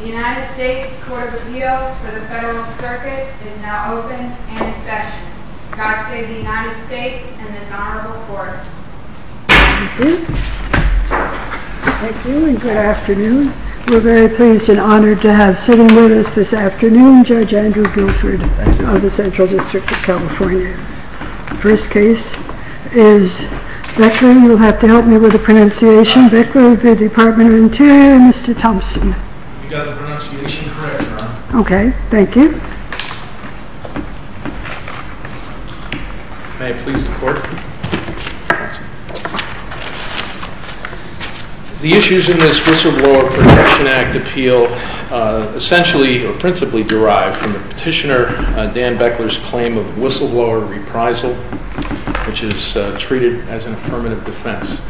The United States Court of Appeals for the Federalist Circuit is now open and in session. God save the United States and this honorable court. Thank you and good afternoon. We're very pleased and honored to have sitting with us this afternoon Judge Andrew Guilford of the Central District of California. The first case is Beckler, you'll have to help me with the pronunciation, Beckler v. Department of Interior, Mr. Thompson. You got the pronunciation correct, Ron. Okay, thank you. May it please the court. The issues in this Whistleblower Protection Act appeal essentially or principally derive from the petitioner Dan Beckler's claim of whistleblower reprisal, which is treated as an affirmative defense.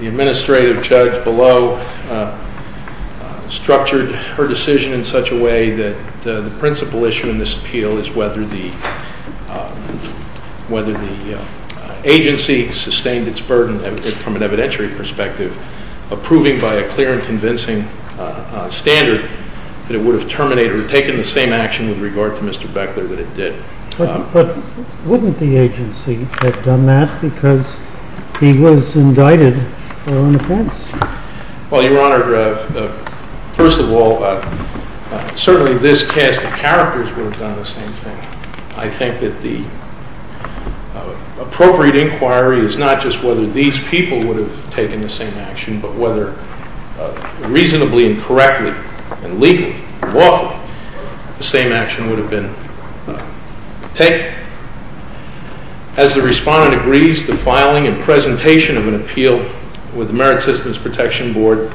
The administrative judge below structured her decision in such a way that the principal issue in this appeal is whether the agency sustained its burden from an evidentiary perspective, approving by a clear and convincing standard that it would have terminated or taken the same action with regard to Mr. Beckler that it did. But wouldn't the agency have done that because he was indicted for an offense? Well, Your Honor, first of all, certainly this cast of characters would have done the same thing. I think that the appropriate inquiry is not just whether these people would have taken the same action, but whether reasonably and correctly and legally and lawfully the same action would have been taken. As the respondent agrees, the filing and presentation of an appeal with the Merit Systems Protection Board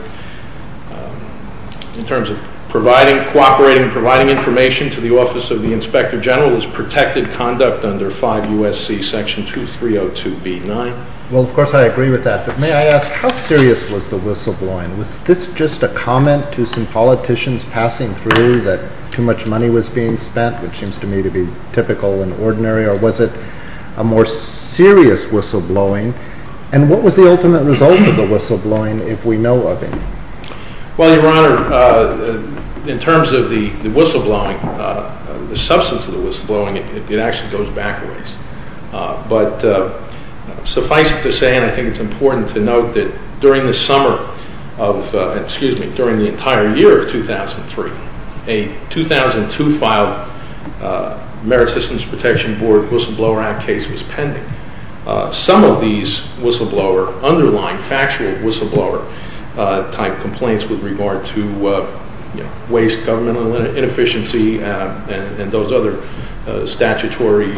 in terms of cooperating and providing information to the Office of the Inspector General is protected conduct under 5 U.S.C. Section 2302B9. Well, of course, I agree with that. But may I ask, how serious was the whistleblowing? Was this just a comment to some politicians passing through that too much money was being spent, which seems to me to be typical and ordinary? Or was it a more serious whistleblowing? And what was the ultimate result of the whistleblowing if we know of any? Well, Your Honor, in terms of the whistleblowing, the substance of the whistleblowing, it actually goes back a ways. But suffice it to say, and I think it's important to note, that during the summer of, excuse me, during the entire year of 2003, a 2002 filed Merit Systems Protection Board Whistleblower Act case was pending. Some of these whistleblower, underlying factual whistleblower type complaints with regard to waste, governmental inefficiency, and those other statutory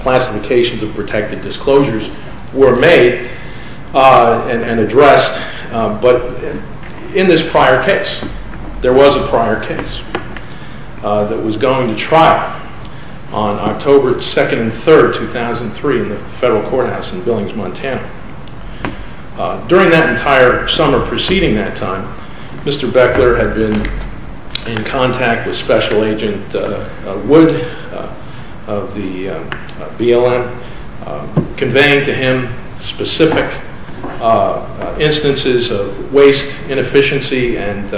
classifications of protected disclosures were made and addressed. But in this prior case, there was a prior case that was going to trial on October 2nd and 3rd, 2003 in the federal courthouse in Billings, Montana. During that entire summer preceding that time, Mr. Beckler had been in contact with Special Agent Wood of the BLM, conveying to him specific instances of waste inefficiency and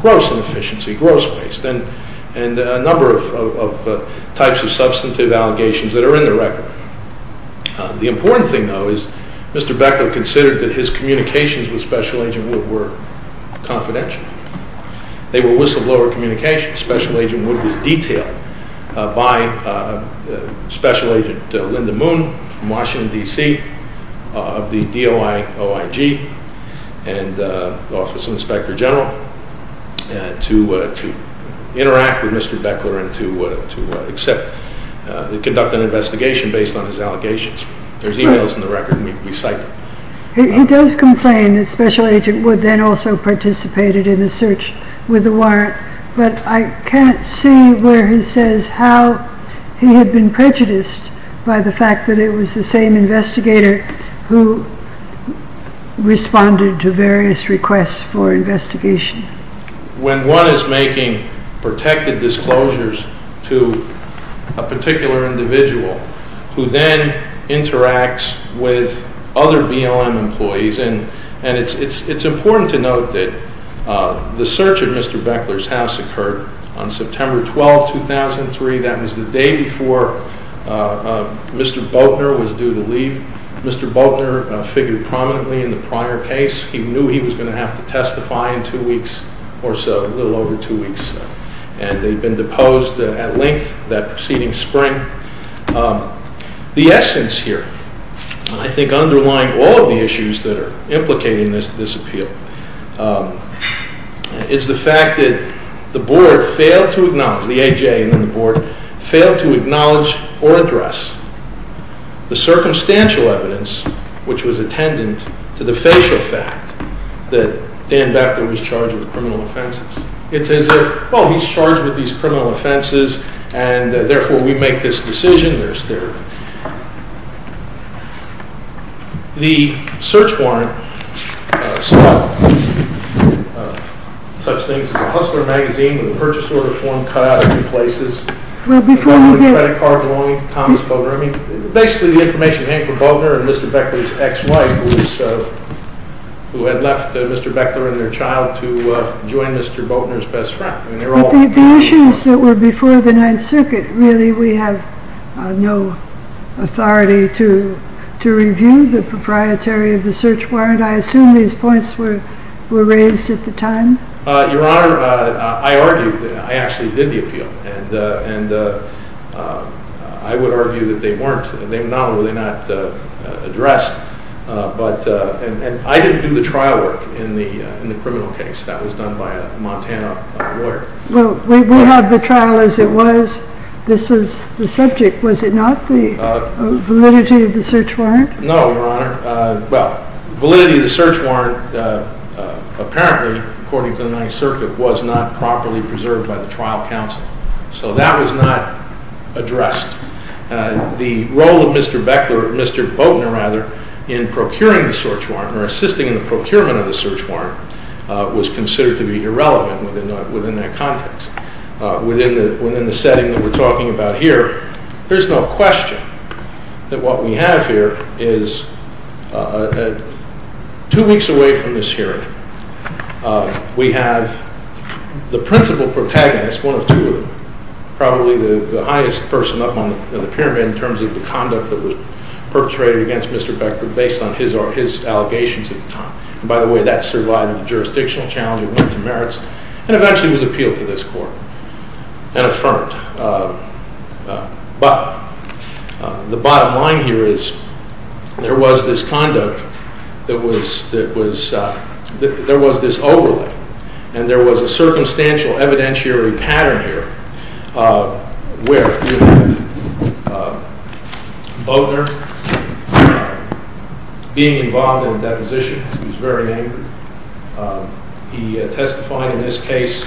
gross inefficiency, gross waste, and a number of types of substantive allegations that are in the record. The important thing, though, is Mr. Beckler considered that his communications with Special Agent Wood were confidential. They were whistleblower communications. Special Agent Wood was detailed by Special Agent Linda Moon from Washington, D.C., of the DOI, OIG, and Office of Inspector General to interact with Mr. Beckler and to conduct an investigation based on his allegations. There's emails in the record, and we cite them. He does complain that Special Agent Wood then also participated in the search with the warrant, but I can't see where he says how he had been prejudiced by the fact that it was the same investigator who responded to various requests for investigation. When one is making protected disclosures to a particular individual who then interacts with other BLM employees, and it's important to note that the search at Mr. Beckler's house occurred on September 12, 2003. That was the day before Mr. Boatner was due to leave. Mr. Boatner figured prominently in the prior case. He knew he was going to have to testify in two weeks or so, a little over two weeks. And they'd been deposed at length that preceding spring. The essence here, and I think underlying all of the issues that are implicating this appeal, is the fact that the board failed to acknowledge, the AJ and then the board, failed to acknowledge or address the circumstantial evidence, which was attendant to the facial fact that Dan Beckler was charged with criminal offenses. It's as if, well, he's charged with these criminal offenses, and therefore we make this decision. The search warrant stopped such things as a Hustler magazine, when the purchase order form cut out of two places, the credit card belonging to Thomas Boatner. I mean, basically the information came from Boatner and Mr. Beckler's ex-wife, who had left Mr. Beckler and their child to join Mr. Boatner's best friend. But the issues that were before the Ninth Circuit, really we have no authority to review the proprietary of the search warrant. I assume these points were raised at the time? Your Honor, I argued, I actually did the appeal. And I would argue that they weren't, they were not addressed. And I didn't do the trial work in the criminal case. That was done by a Montana lawyer. Well, we have the trial as it was. This was the subject, was it not, the validity of the search warrant? No, Your Honor. Well, validity of the search warrant, apparently, according to the Ninth Circuit, was not properly preserved by the trial counsel. So that was not addressed. The role of Mr. Boatner in procuring the search warrant, or assisting in the procurement of the search warrant, was considered to be irrelevant within that context. Within the setting that we're talking about here, there's no question that what we have here is, two weeks away from this hearing, we have the principal protagonist, one of two of them, probably the highest person up on the pyramid in terms of the conduct that was perpetrated against Mr. Becker based on his allegations at the time. And by the way, that survived the jurisdictional challenge of limited merits and eventually was appealed to this court and affirmed. But the bottom line here is there was this conduct that was, there was this overlay and there was a circumstantial evidentiary pattern here where Boatner, being involved in deposition, was very angry. He testified in this case,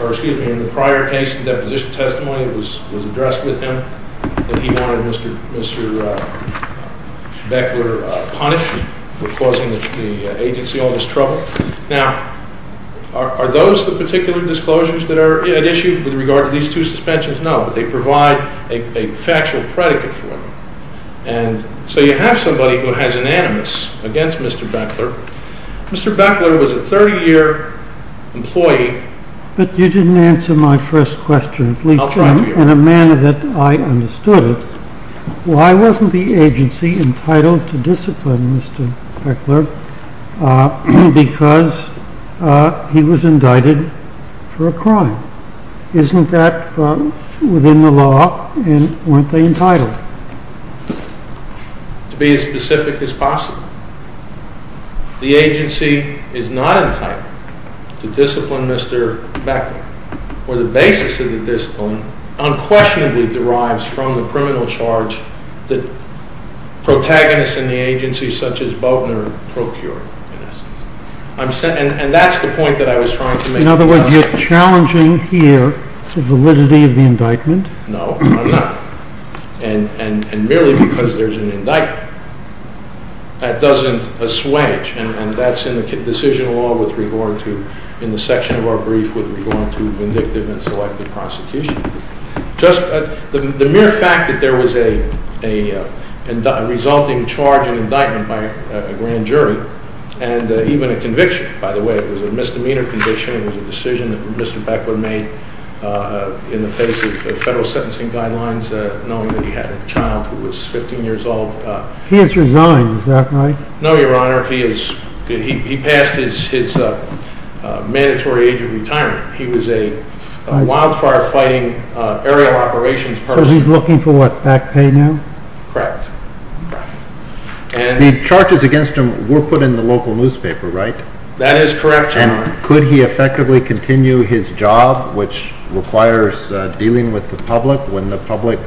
or excuse me, in the prior case, the deposition testimony was addressed with him, that he wanted Mr. Becker punished for causing the agency all this trouble. Now, are those the particular disclosures that are at issue with regard to these two suspensions? No, but they provide a factual predicate for them. And so you have somebody who has an animus against Mr. Becker. Mr. Becker was a 30-year employee. But you didn't answer my first question, at least in a manner that I understood it. Why wasn't the agency entitled to discipline Mr. Becker because he was indicted for a crime? Isn't that within the law and weren't they entitled? To be as specific as possible. The agency is not entitled to discipline Mr. Becker, for the basis of the discipline unquestionably derives from the criminal charge that protagonists in the agency such as Boutner procure, in essence. And that's the point that I was trying to make. In other words, you're challenging here the validity of the indictment? No, I'm not. And merely because there's an indictment. That doesn't assuage, and that's in the decision law with regard to, in the section of our brief with regard to vindictive and selective prostitution. Just the mere fact that there was a resulting charge and indictment by a grand jury, and even a conviction, by the way, it was a misdemeanor conviction, it was a decision that Mr. Becker made in the face of federal sentencing guidelines, knowing that he had a child who was 15 years old. He has resigned, is that right? No, Your Honor. He passed his mandatory age of retirement. He was a wildfire fighting aerial operations person. So he's looking for what, back pay now? Correct. The charges against him were put in the local newspaper, right? That is correct, Your Honor. And could he effectively continue his job, which requires dealing with the public, when the public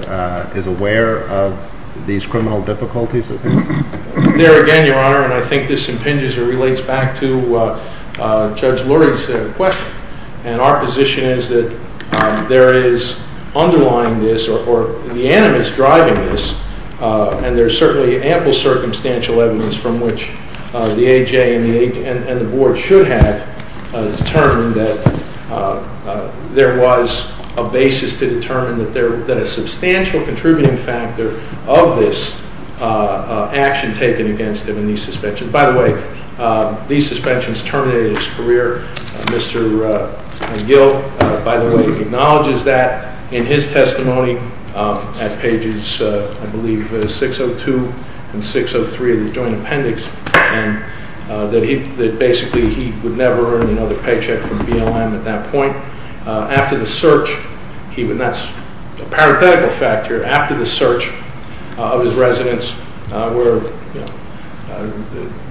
is aware of these criminal difficulties? There again, Your Honor, and I think this impinges or relates back to Judge Lurie's question. And our position is that there is underlying this or the animus driving this, and there's certainly ample circumstantial evidence from which the A.J. and the board should have determined that there was a basis to determine that a substantial contributing factor of this action taken against him in these suspensions. By the way, these suspensions terminated his career. Mr. McGill, by the way, acknowledges that in his testimony at pages, I believe, 602 and 603 of the joint appendix, that basically he would never earn another paycheck from BLM at that point. After the search, and that's a parenthetical fact here, after the search of his residence where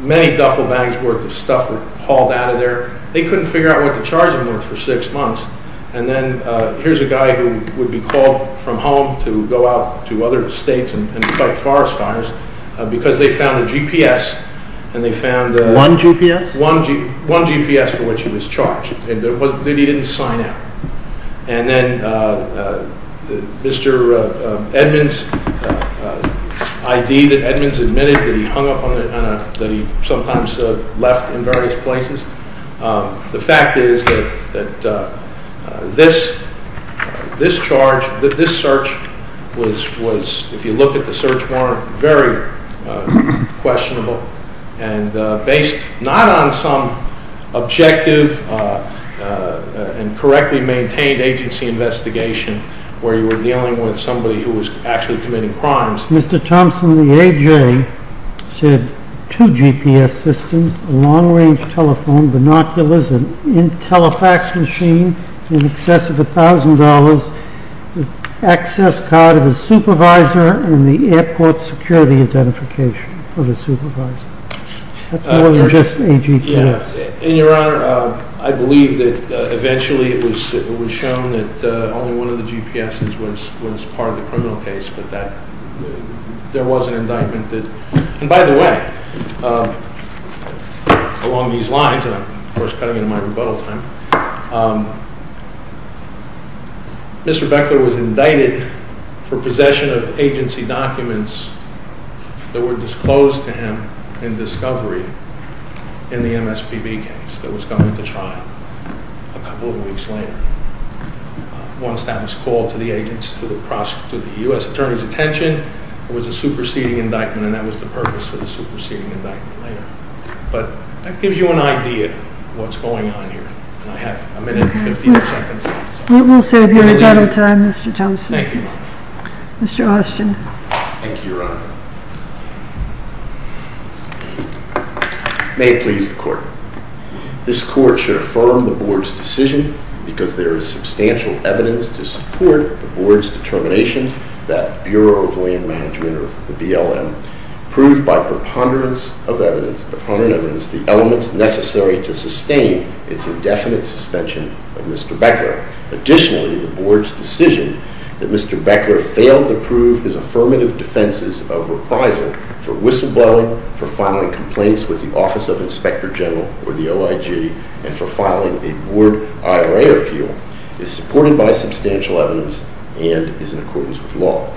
many duffel bags worth of stuff were hauled out of there, they couldn't figure out what to charge him with for six months. And then here's a guy who would be called from home to go out to other states and fight forest fires because they found a GPS and they found- One GPS? One GPS for which he was charged. He didn't sign out. And then Mr. Edmunds' ID that Edmunds admitted that he hung up on a- that he sometimes left in various places. The fact is that this charge, that this search was, if you look at the search warrant, very questionable and based not on some objective and correctly maintained agency investigation where you were dealing with somebody who was actually committing crimes. Mr. Thompson, the AJ, said two GPS systems, a long-range telephone, binoculars, a telefax machine in excess of $1,000, the access card of the supervisor, and the airport security identification of the supervisor. That's more than just a GPS. Your Honor, I believe that eventually it was shown that only one of the GPSes was part of the criminal case, but there was an indictment that- I'm running out of my rebuttal time. Mr. Beckler was indicted for possession of agency documents that were disclosed to him in discovery in the MSPB case that was going to trial a couple of weeks later. Once that was called to the agency, to the U.S. Attorney's attention, it was a superseding indictment and that was the purpose for the superseding indictment later. But that gives you an idea of what's going on here, and I have a minute and 15 seconds left. We'll save your rebuttal time, Mr. Thompson. Thank you, Your Honor. Mr. Huston. Thank you, Your Honor. May it please the Court. This Court should affirm the Board's decision because there is substantial evidence to support the Board's determination that Bureau of Land Management, or the BLM, proved by preponderance of evidence, preponderant evidence, the elements necessary to sustain its indefinite suspension of Mr. Beckler. Additionally, the Board's decision that Mr. Beckler failed to prove his affirmative defenses of reprisal for whistleblowing, for filing complaints with the Office of Inspector General or the OIG, and for filing a Board IRA appeal is supported by substantial evidence and is in accordance with law.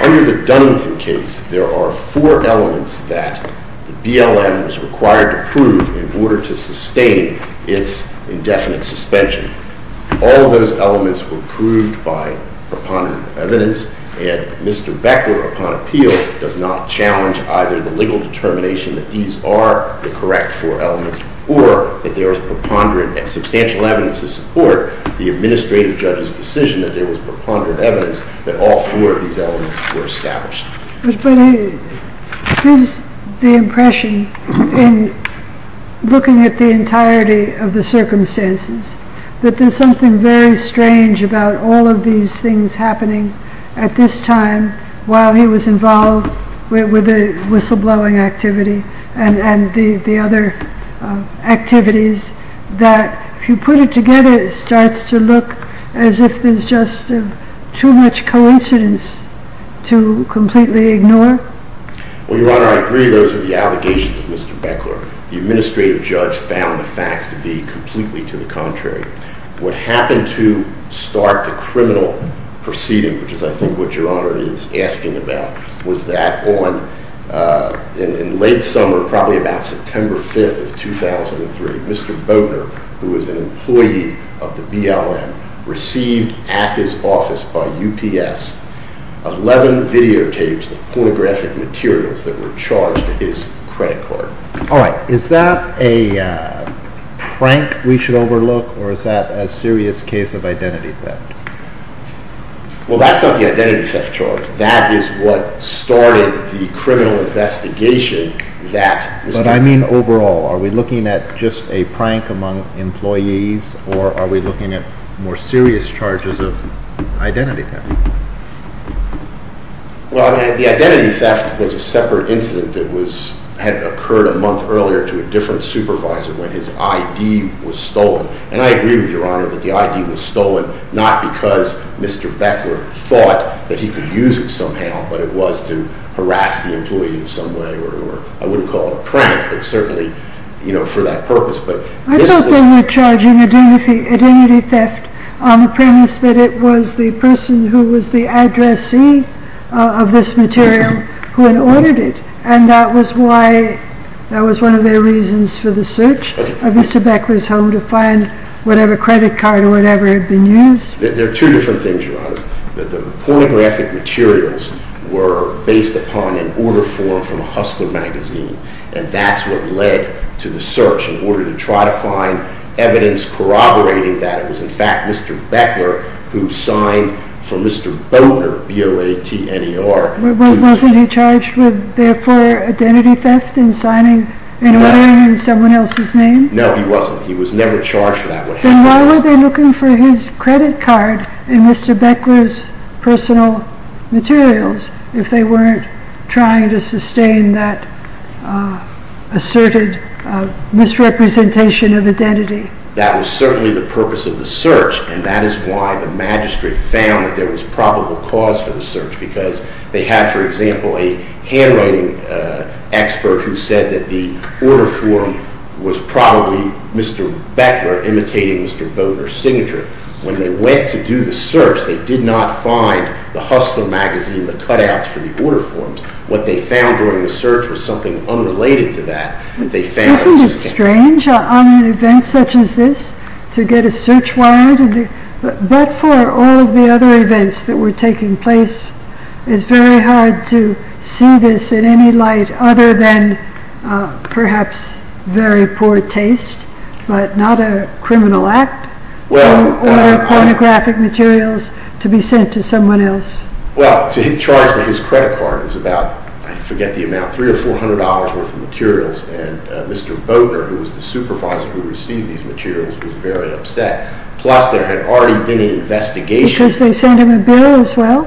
Under the Dunnington case, there are four elements that the BLM was required to prove in order to sustain its indefinite suspension. All of those elements were proved by preponderant evidence, and Mr. Beckler, upon appeal, does not challenge either the legal determination that these are the correct four elements or that there is preponderant and substantial evidence to support the administrative judge's decision that there was preponderant evidence that all four of these elements were established. But he gives the impression, in looking at the entirety of the circumstances, that there's something very strange about all of these things happening at this time while he was involved with the whistleblowing activity and the other activities, that if you put it together, it starts to look as if there's just too much coincidence to completely ignore. Well, Your Honor, I agree those are the allegations of Mr. Beckler. The administrative judge found the facts to be completely to the contrary. What happened to start the criminal proceeding, which is I think what Your Honor is asking about, was that in late summer, probably about September 5th of 2003, Mr. Bogner, who was an employee of the BLM, received at his office by UPS 11 videotapes of pornographic materials that were charged to his credit card. All right. Is that a prank we should overlook, or is that a serious case of identity theft? Well, that's not the identity theft charge. That is what started the criminal investigation. But I mean overall. Are we looking at just a prank among employees, or are we looking at more serious charges of identity theft? Well, the identity theft was a separate incident that had occurred a month earlier to a different supervisor when his ID was stolen. And I agree with Your Honor that the ID was stolen not because Mr. Beckler thought that he could use it somehow, but it was to harass the employee in some way, or I wouldn't call it a prank, but certainly for that purpose. I thought they were charging identity theft on the premise that it was the person who was the addressee of this material who had ordered it, and that was one of their reasons for the search of Mr. Beckler's home to find whatever credit card or whatever had been used. There are two different things, Your Honor. The pornographic materials were based upon an order form a Hustler magazine, and that's what led to the search in order to try to find evidence corroborating that it was in fact Mr. Beckler who signed for Mr. Boatner, B-O-A-T-N-E-R. Wasn't he charged with therefore identity theft in signing and ordering in someone else's name? No, he wasn't. He was never charged for that. Then why were they looking for his credit card in Mr. Beckler's personal materials if they weren't trying to sustain that asserted misrepresentation of identity? That was certainly the purpose of the search, and that is why the magistrate found that there was probable cause for the search, because they have, for example, a handwriting expert who said that the order form was probably Mr. Beckler imitating Mr. Boatner's signature. When they went to do the search, they did not find the Hustler magazine, the cutouts for the order forms. What they found during the search was something unrelated to that. Isn't it strange on an event such as this to get a search warrant? But for all the other events that were taking place, it's very hard to see this in any light other than perhaps very poor taste, but not a criminal act. Or pornographic materials to be sent to someone else. Well, to charge his credit card was about, I forget the amount, three or four hundred dollars worth of materials. And Mr. Boatner, who was the supervisor who received these materials, was very upset. Plus there had already been an investigation. Because they sent him a bill as well?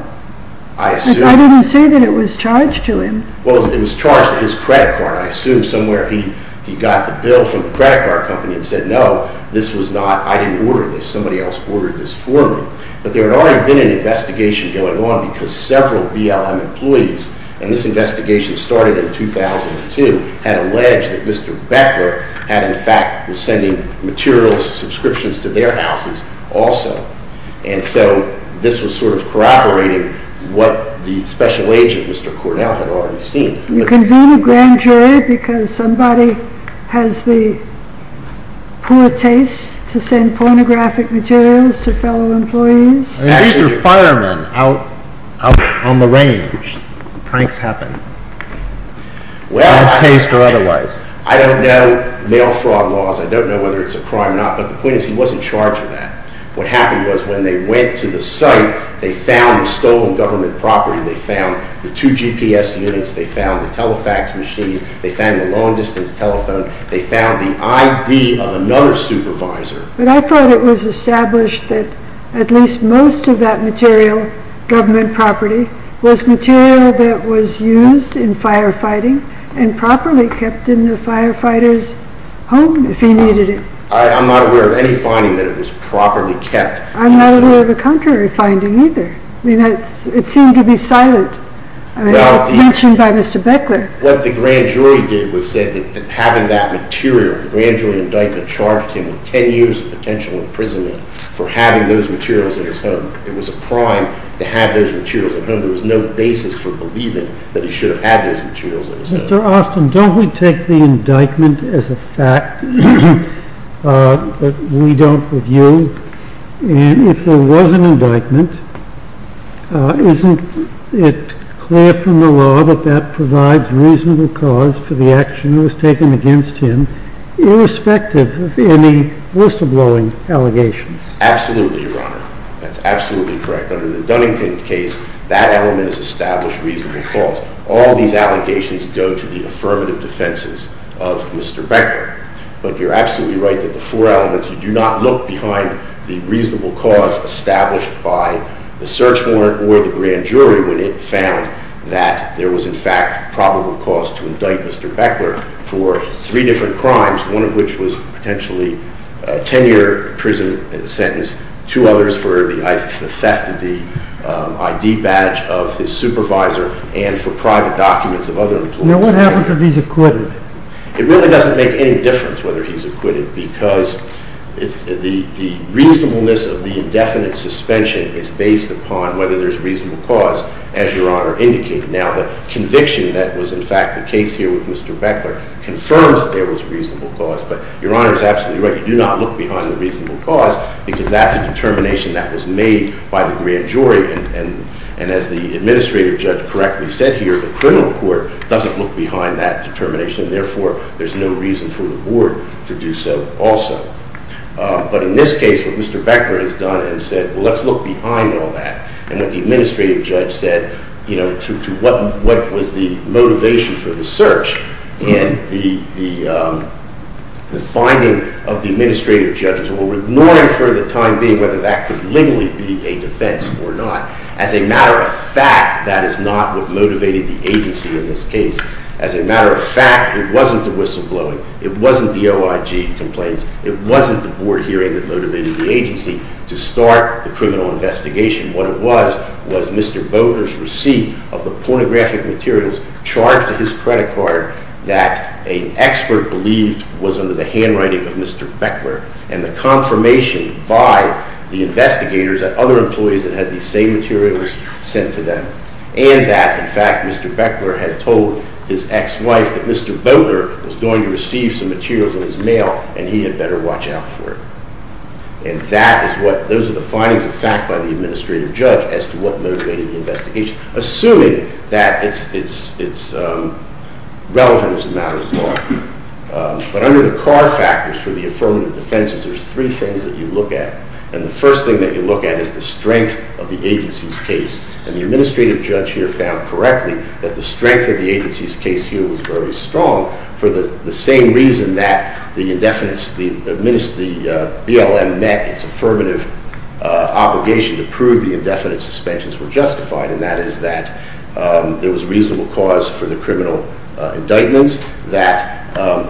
I assume. But I didn't see that it was charged to him. Well, it was charged to his credit card. I assume somewhere he got the bill from the credit card company and said, no, this was not, I didn't order this, somebody else ordered this for me. But there had already been an investigation going on because several BLM employees, and this investigation started in 2002, had alleged that Mr. Becker had in fact was sending materials, subscriptions to their houses also. And so this was sort of corroborating what the special agent, Mr. Cornell, had already seen. You convene a grand jury because somebody has the poor taste to send pornographic materials to fellow employees? These are firemen out on the range. Pranks happen. Well, I don't know, mail fraud laws, I don't know whether it's a crime or not, but the point is he wasn't charged for that. What happened was when they went to the site, they found the stolen government property, they found the two GPS units, they found the Telefax machine, they found the long-distance telephone, they found the ID of another supervisor. But I thought it was established that at least most of that material, government property, was material that was used in firefighting and properly kept in the firefighter's home if he needed it. I'm not aware of any finding that it was properly kept. I'm not aware of a contrary finding either. I mean, it seemed to be silent. I mean, that's mentioned by Mr. Beckler. What the grand jury did was say that having that material, the grand jury indictment charged him with 10 years of potential imprisonment for having those materials at his home. It was a crime to have those materials at home. There was no basis for believing that he should have had those materials at his home. Mr. Austin, don't we take the indictment as a fact that we don't review? If there was an indictment, isn't it clear from the law that that provides reasonable cause for the action that was taken against him, irrespective of any whistleblowing allegations? Absolutely, Your Honor. That's absolutely correct. Under the Dunnington case, that element is established reasonable cause. All these allegations go to the affirmative defenses of Mr. Beckler. But you're absolutely right that the four elements, you do not look behind the reasonable cause established by the search warrant or the grand jury when it found that there was, in fact, probable cause to indict Mr. Beckler for three different crimes, one of which was potentially a 10-year prison sentence, two others for the theft of the ID badge of his supervisor, and for private documents of other employees. Now, what happens if he's acquitted? It really doesn't make any difference whether he's acquitted because the reasonableness of the indefinite suspension is based upon whether there's reasonable cause, as Your Honor indicated. Now, the conviction that was, in fact, the case here with Mr. Beckler confirms that there was reasonable cause. But Your Honor is absolutely right. You do not look behind the reasonable cause because that's a determination that was made by the grand jury. And as the administrative judge correctly said here, the criminal court doesn't look behind that determination. Therefore, there's no reason for the board to do so also. But in this case, what Mr. Beckler has done and said, well, let's look behind all that. And what the administrative judge said, you know, to what was the motivation for the search and the finding of the administrative judge or ignoring for the time being whether that could legally be a defense or not. As a matter of fact, that is not what motivated the agency in this case. As a matter of fact, it wasn't the whistleblowing. It wasn't the OIG complaints. It wasn't the board hearing that motivated the agency to start the criminal investigation. What it was was Mr. Beckler's receipt of the pornographic materials charged to his credit card that an expert believed was under the handwriting of Mr. Beckler and the confirmation by the investigators that other employees that had these same materials sent to them and that, in fact, Mr. Beckler had told his ex-wife that Mr. Boatner was going to receive some materials in his mail and he had better watch out for it. And those are the findings of fact by the administrative judge as to what motivated the investigation, assuming that it's relevant as a matter of law. But under the car factors for the affirmative defenses, there's three things that you look at. And the first thing that you look at is the strength of the agency's case. And the administrative judge here found correctly that the strength of the agency's case here was very strong for the same reason that the BLM met its affirmative obligation to prove the indefinite suspensions were justified, and that is that there was reasonable cause for the criminal indictments, that,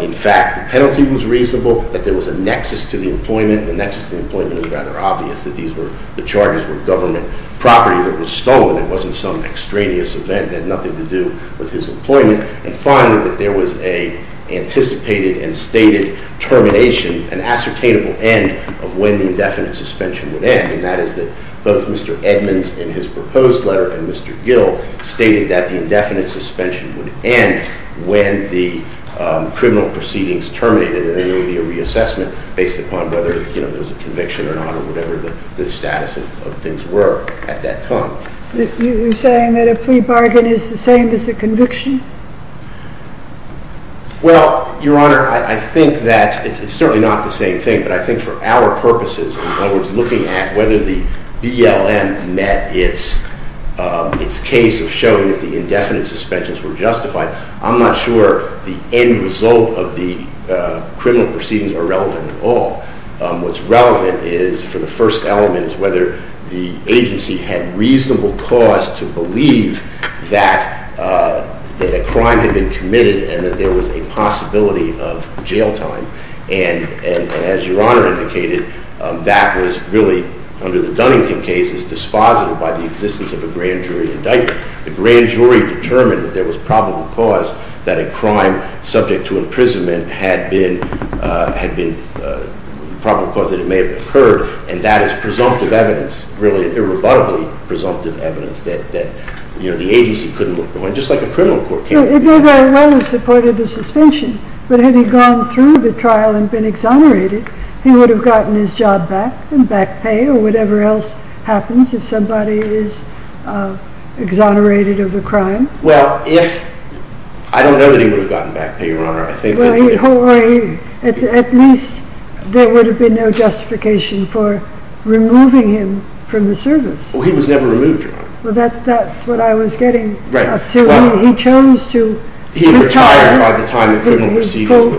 in fact, the penalty was reasonable, that there was a nexus to the employment. The nexus to the employment was rather obvious, that the charges were government property that was stolen. It wasn't some extraneous event that had nothing to do with his employment. And finally, that there was an anticipated and stated termination, an ascertainable end of when the indefinite suspension would end, and that is that both Mr. Edmonds in his proposed letter and Mr. Gill stated that the indefinite suspension would end when the criminal proceedings terminated, and there would be a reassessment based upon whether there was a conviction or not or whatever the status of things were at that time. You're saying that a plea bargain is the same as a conviction? Well, Your Honor, I think that it's certainly not the same thing, but I think for our purposes, in other words, looking at whether the BLM met its case of showing that the indefinite suspensions were justified, I'm not sure the end result of the criminal proceedings are relevant at all. What's relevant is, for the first element, is whether the agency had reasonable cause to believe that a crime had been committed and that there was a possibility of jail time, and as Your Honor indicated, that was really, under the Dunnington case, dispositive by the existence of a grand jury indictment. The grand jury determined that there was probable cause that a crime subject to imprisonment had been probable cause that it may have occurred, and that is presumptive evidence, really irrebuttably presumptive evidence, that the agency couldn't look behind, just like a criminal court can't look behind. It may very well have supported the suspension, but had he gone through the trial and been exonerated, he would have gotten his job back and back pay, or whatever else happens if somebody is exonerated of a crime. Well, I don't know that he would have gotten back pay, Your Honor. At least there would have been no justification for removing him from the service. Well, he was never removed, Your Honor. That's what I was getting to. He chose to retire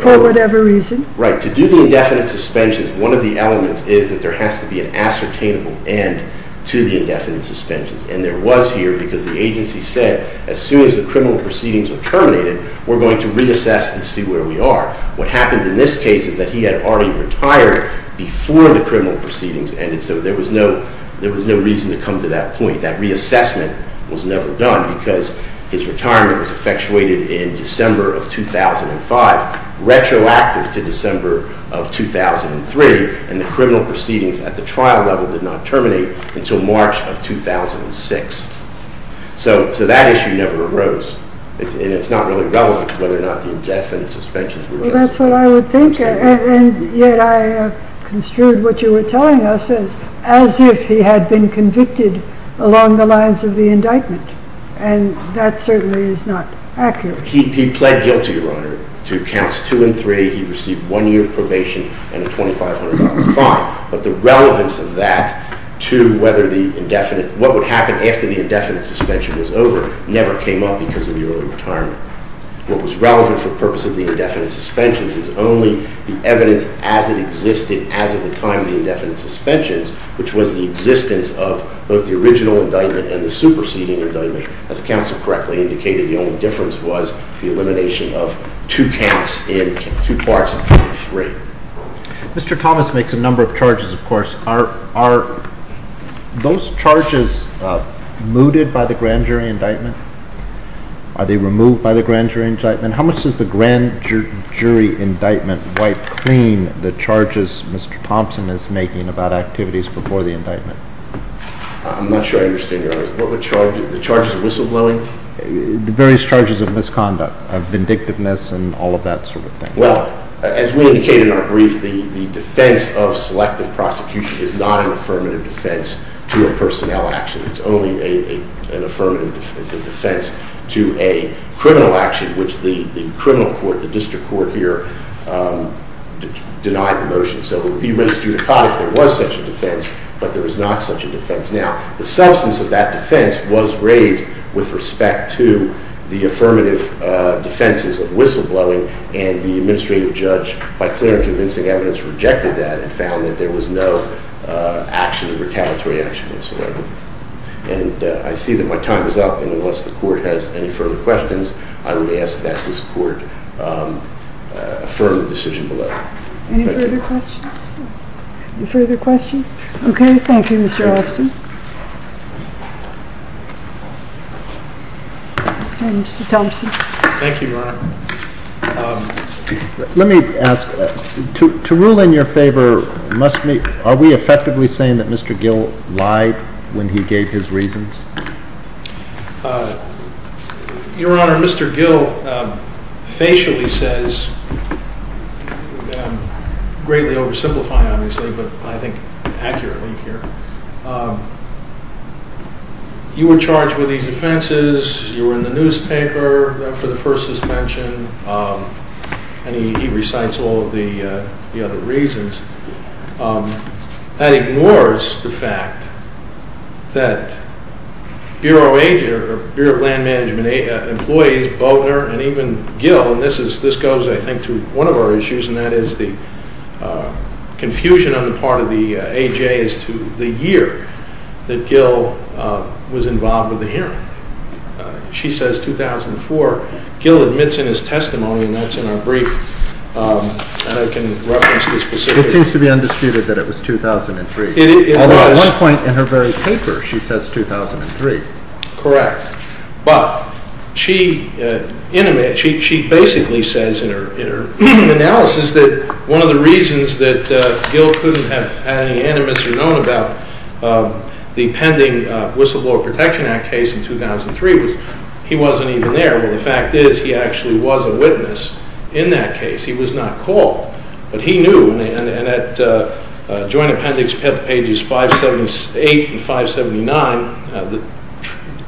for whatever reason. Right. To do the indefinite suspensions, one of the elements is that there has to be an ascertainable end to the indefinite suspensions, and there was here because the agency said, as soon as the criminal proceedings are terminated, we're going to reassess and see where we are. What happened in this case is that he had already retired before the criminal proceedings ended, so there was no reason to come to that point. That reassessment was never done because his retirement was effectuated in December of 2005, retroactive to December of 2003, and the criminal proceedings at the trial level did not terminate until March of 2006. So that issue never arose, and it's not really relevant to whether or not the indefinite suspensions were necessary. That's what I would think, And yet I construed what you were telling us as if he had been convicted along the lines of the indictment, and that certainly is not accurate. He pled guilty, Your Honor, to counts two and three. He received one year of probation and a $2,500 fine, but the relevance of that to what would happen after the indefinite suspension was over never came up because of the early retirement. What was relevant for the purpose of the indefinite suspensions is only the evidence as it existed as of the time of the indefinite suspensions, which was the existence of both the original indictment and the superseding indictment. As counsel correctly indicated, the only difference was the elimination of two counts in two parts of three. Mr. Thomas makes a number of charges, of course. Are those charges mooted by the grand jury indictment? Are they removed by the grand jury indictment? How much does the grand jury indictment wipe clean the charges Mr. Thompson is making about activities before the indictment? I'm not sure I understand, Your Honor. The charges of whistleblowing? The various charges of misconduct, of vindictiveness, and all of that sort of thing. Well, as we indicated in our brief, the defense of selective prosecution is not an affirmative defense to a personnel action. It's only an affirmative defense to a criminal action, which the criminal court, the district court here, denied the motion. So it would be misjudicotic if there was such a defense, but there is not such a defense. Now, the substance of that defense was raised with respect to the affirmative defenses of whistleblowing, and the administrative judge, by clear and convincing evidence, rejected that and found that there was no action, retaliatory action, whatsoever. And I see that my time is up, and unless the court has any further questions, I will ask that this court affirm the decision below. Any further questions? Any further questions? Okay, thank you, Mr. Alston. And Mr. Thompson. Thank you, Your Honor. Let me ask, to rule in your favor, are we effectively saying that Mr. Gill lied when he gave his reasons? Your Honor, Mr. Gill facially says, greatly oversimplifying, obviously, but I think accurately here, you were charged with these offenses, you were in the newspaper for the first suspension, and he recites all of the other reasons. That ignores the fact that Bureau of Land Management employees, Bodner and even Gill, and this goes, I think, to one of our issues, and that is the confusion on the part of the A.J. as to the year that Gill was involved with the hearing. She says 2004. Gill admits in his testimony, and that's in our brief, and I can reference the specifics. It seems to be undisputed that it was 2003. It was. Although at one point in her very paper, she says 2003. Correct. But she basically says in her analysis that one of the reasons that Gill couldn't have had any animus or known about the pending Whistleblower Protection Act case in 2003 was he wasn't even there. Well, the fact is he actually was a witness in that case. He was not called, but he knew. And at Joint Appendix Pages 578 and 579, the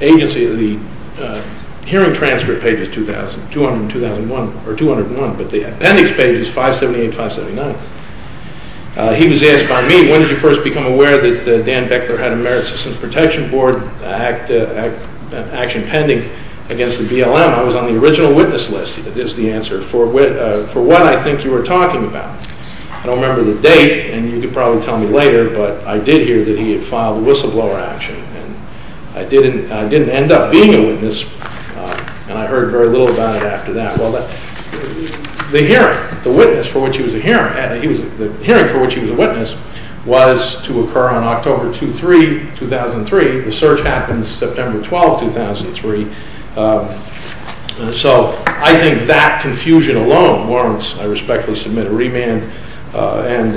agency, the hearing transcript page is 2001, but the appendix page is 578 and 579. He was asked by me, when did you first become aware that Dan Beckler had a Merit Systems Protection Board action pending against the BLM? I was on the original witness list, is the answer, for what I think you were talking about. I don't remember the date, and you could probably tell me later, but I did hear that he had filed a whistleblower action. I didn't end up being a witness, and I heard very little about it after that. The hearing, the witness for which he was a witness, was to occur on October 2-3, 2003. The search happened September 12, 2003. So I think that confusion alone warrants, I respectfully submit a remand, and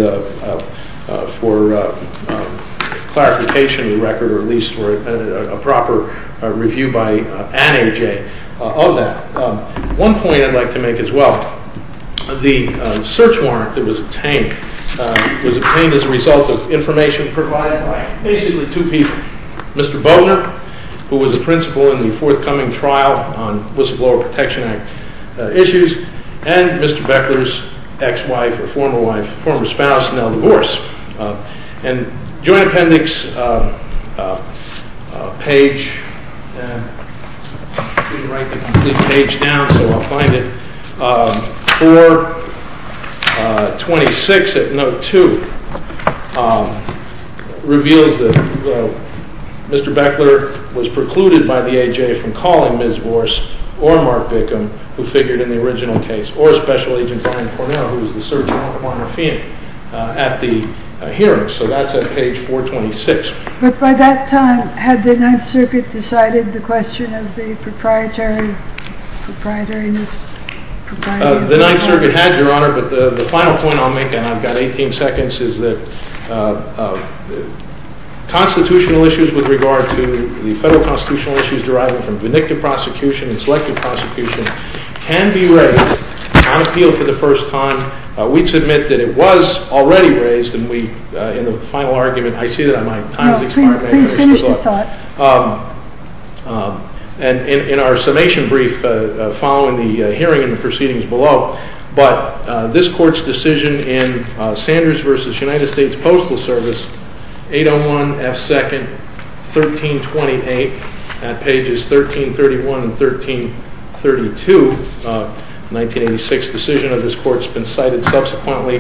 for clarification of the record, or at least a proper review by Anne A.J. of that. One point I'd like to make as well, the search warrant that was obtained, was obtained as a result of information provided by basically two people. Mr. Boatner, who was a principal in the forthcoming trial on Whistleblower Protection Act issues, and Mr. Beckler's ex-wife, or former wife, former spouse, now divorced. And joint appendix page, I couldn't write the complete page down, so I'll find it, 426 at note 2, reveals that Mr. Beckler was precluded by the A.J. from calling Ms. Vorse, or Mark Bickham, who figured in the original case, or Special Agent Brian Cornell, who was the search warrant for Mark Bickham, at the hearing. So that's at page 426. But by that time, had the Ninth Circuit decided the question of the proprietary, proprietoriness? The Ninth Circuit had, Your Honor, but the final point I'll make, and I've got 18 seconds, is that constitutional issues with regard to the federal constitutional issues deriving from vindictive prosecution and selective prosecution can be raised on appeal for the first time. We'd submit that it was already raised, and we, in the final argument, I see that my time has expired, may I finish the thought? No, please finish the thought. And in our summation brief, following the hearing and the proceedings below, but this Court's decision in Sanders v. United States Postal Service, 801 F. 2nd, 1328, at pages 1331 and 1332 of 1986, decision of this Court's been cited subsequently,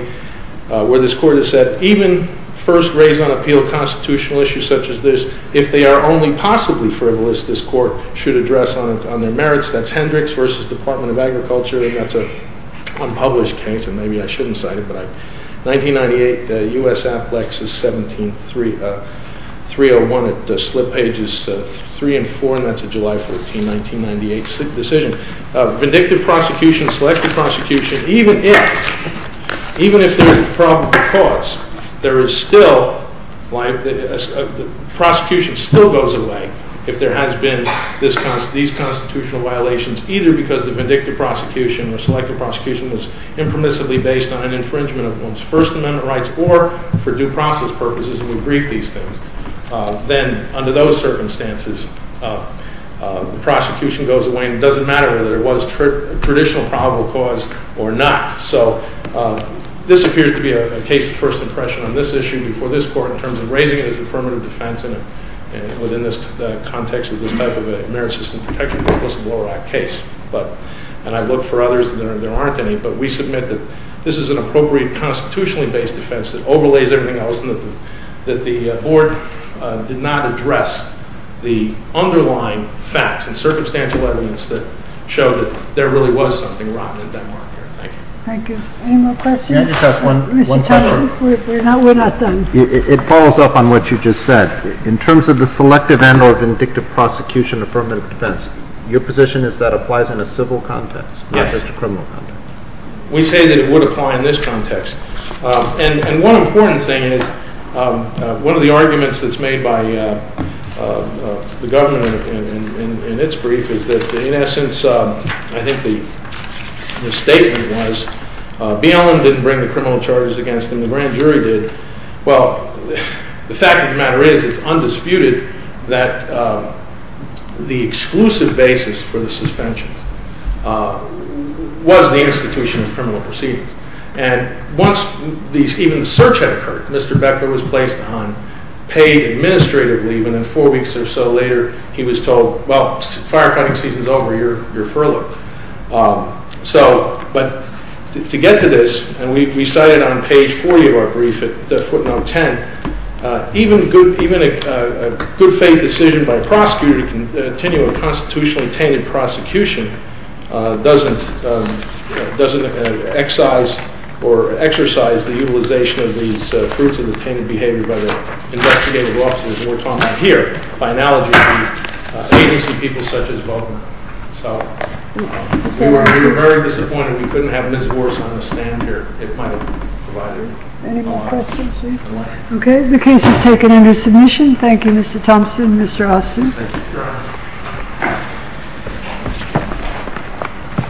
where this Court has said, even first raised on appeal constitutional issues such as this, if they are only possibly frivolous, this Court should address on their merits. That's Hendricks v. Department of Agriculture, and that's an unpublished case, and maybe I shouldn't cite it, but 1998, U.S. Applexus 17301, but slip pages 3 and 4, and that's a July 14, 1998 decision. Vindictive prosecution, selective prosecution, even if there is probable cause, there is still, prosecution still goes away if there has been these constitutional violations, either because the vindictive prosecution or selective prosecution was impermissibly based on an infringement of one's First Amendment rights or for due process purposes, and we brief these things. Then, under those circumstances, the prosecution goes away, and it doesn't matter whether there was traditional probable cause or not. So, this appears to be a case of first impression on this issue before this Court in terms of raising it as affirmative defense within the context of this type of merit system protection, but it was a Blorack case, and I've looked for others, and there aren't any, but we submit that this is an appropriate constitutionally based defense that overlays everything else and that the Board did not address the underlying facts and circumstantial evidence that showed that there really was something rotten in Denmark here. Thank you. Thank you. Any more questions? Can I just ask one question? Mr. Thompson, we're not done. It follows up on what you just said. In terms of the selective and or vindictive prosecution affirmative defense, your position is that applies in a civil context, not just a criminal context. Yes. We say that it would apply in this context, and one important thing is one of the arguments that's made by the government in its brief is that, in essence, I think the statement was BLM didn't bring the criminal charges against them. The grand jury did. Well, the fact of the matter is it's undisputed that the exclusive basis for the suspension was the institution of criminal proceedings, and once even the search had occurred, Mr. Becker was placed on paid administrative leave, and then four weeks or so later he was told, well, firefighting season's over, you're furloughed. But to get to this, and we cite it on page 40 of our brief at footnote 10, even a good faith decision by a prosecutor to continue a constitutionally tainted prosecution doesn't excise or exercise the utilization of these fruits of the tainted behavior by the investigative officers we're talking about here, by analogy to agency people such as Baltimore. So we were very disappointed we couldn't have Ms. Voris on the stand here. It might have provided an opportunity. Any more questions? Okay. The case is taken under submission. Thank you, Mr. Thompson, Mr. Austin. Thank you, Your Honor. Thank you.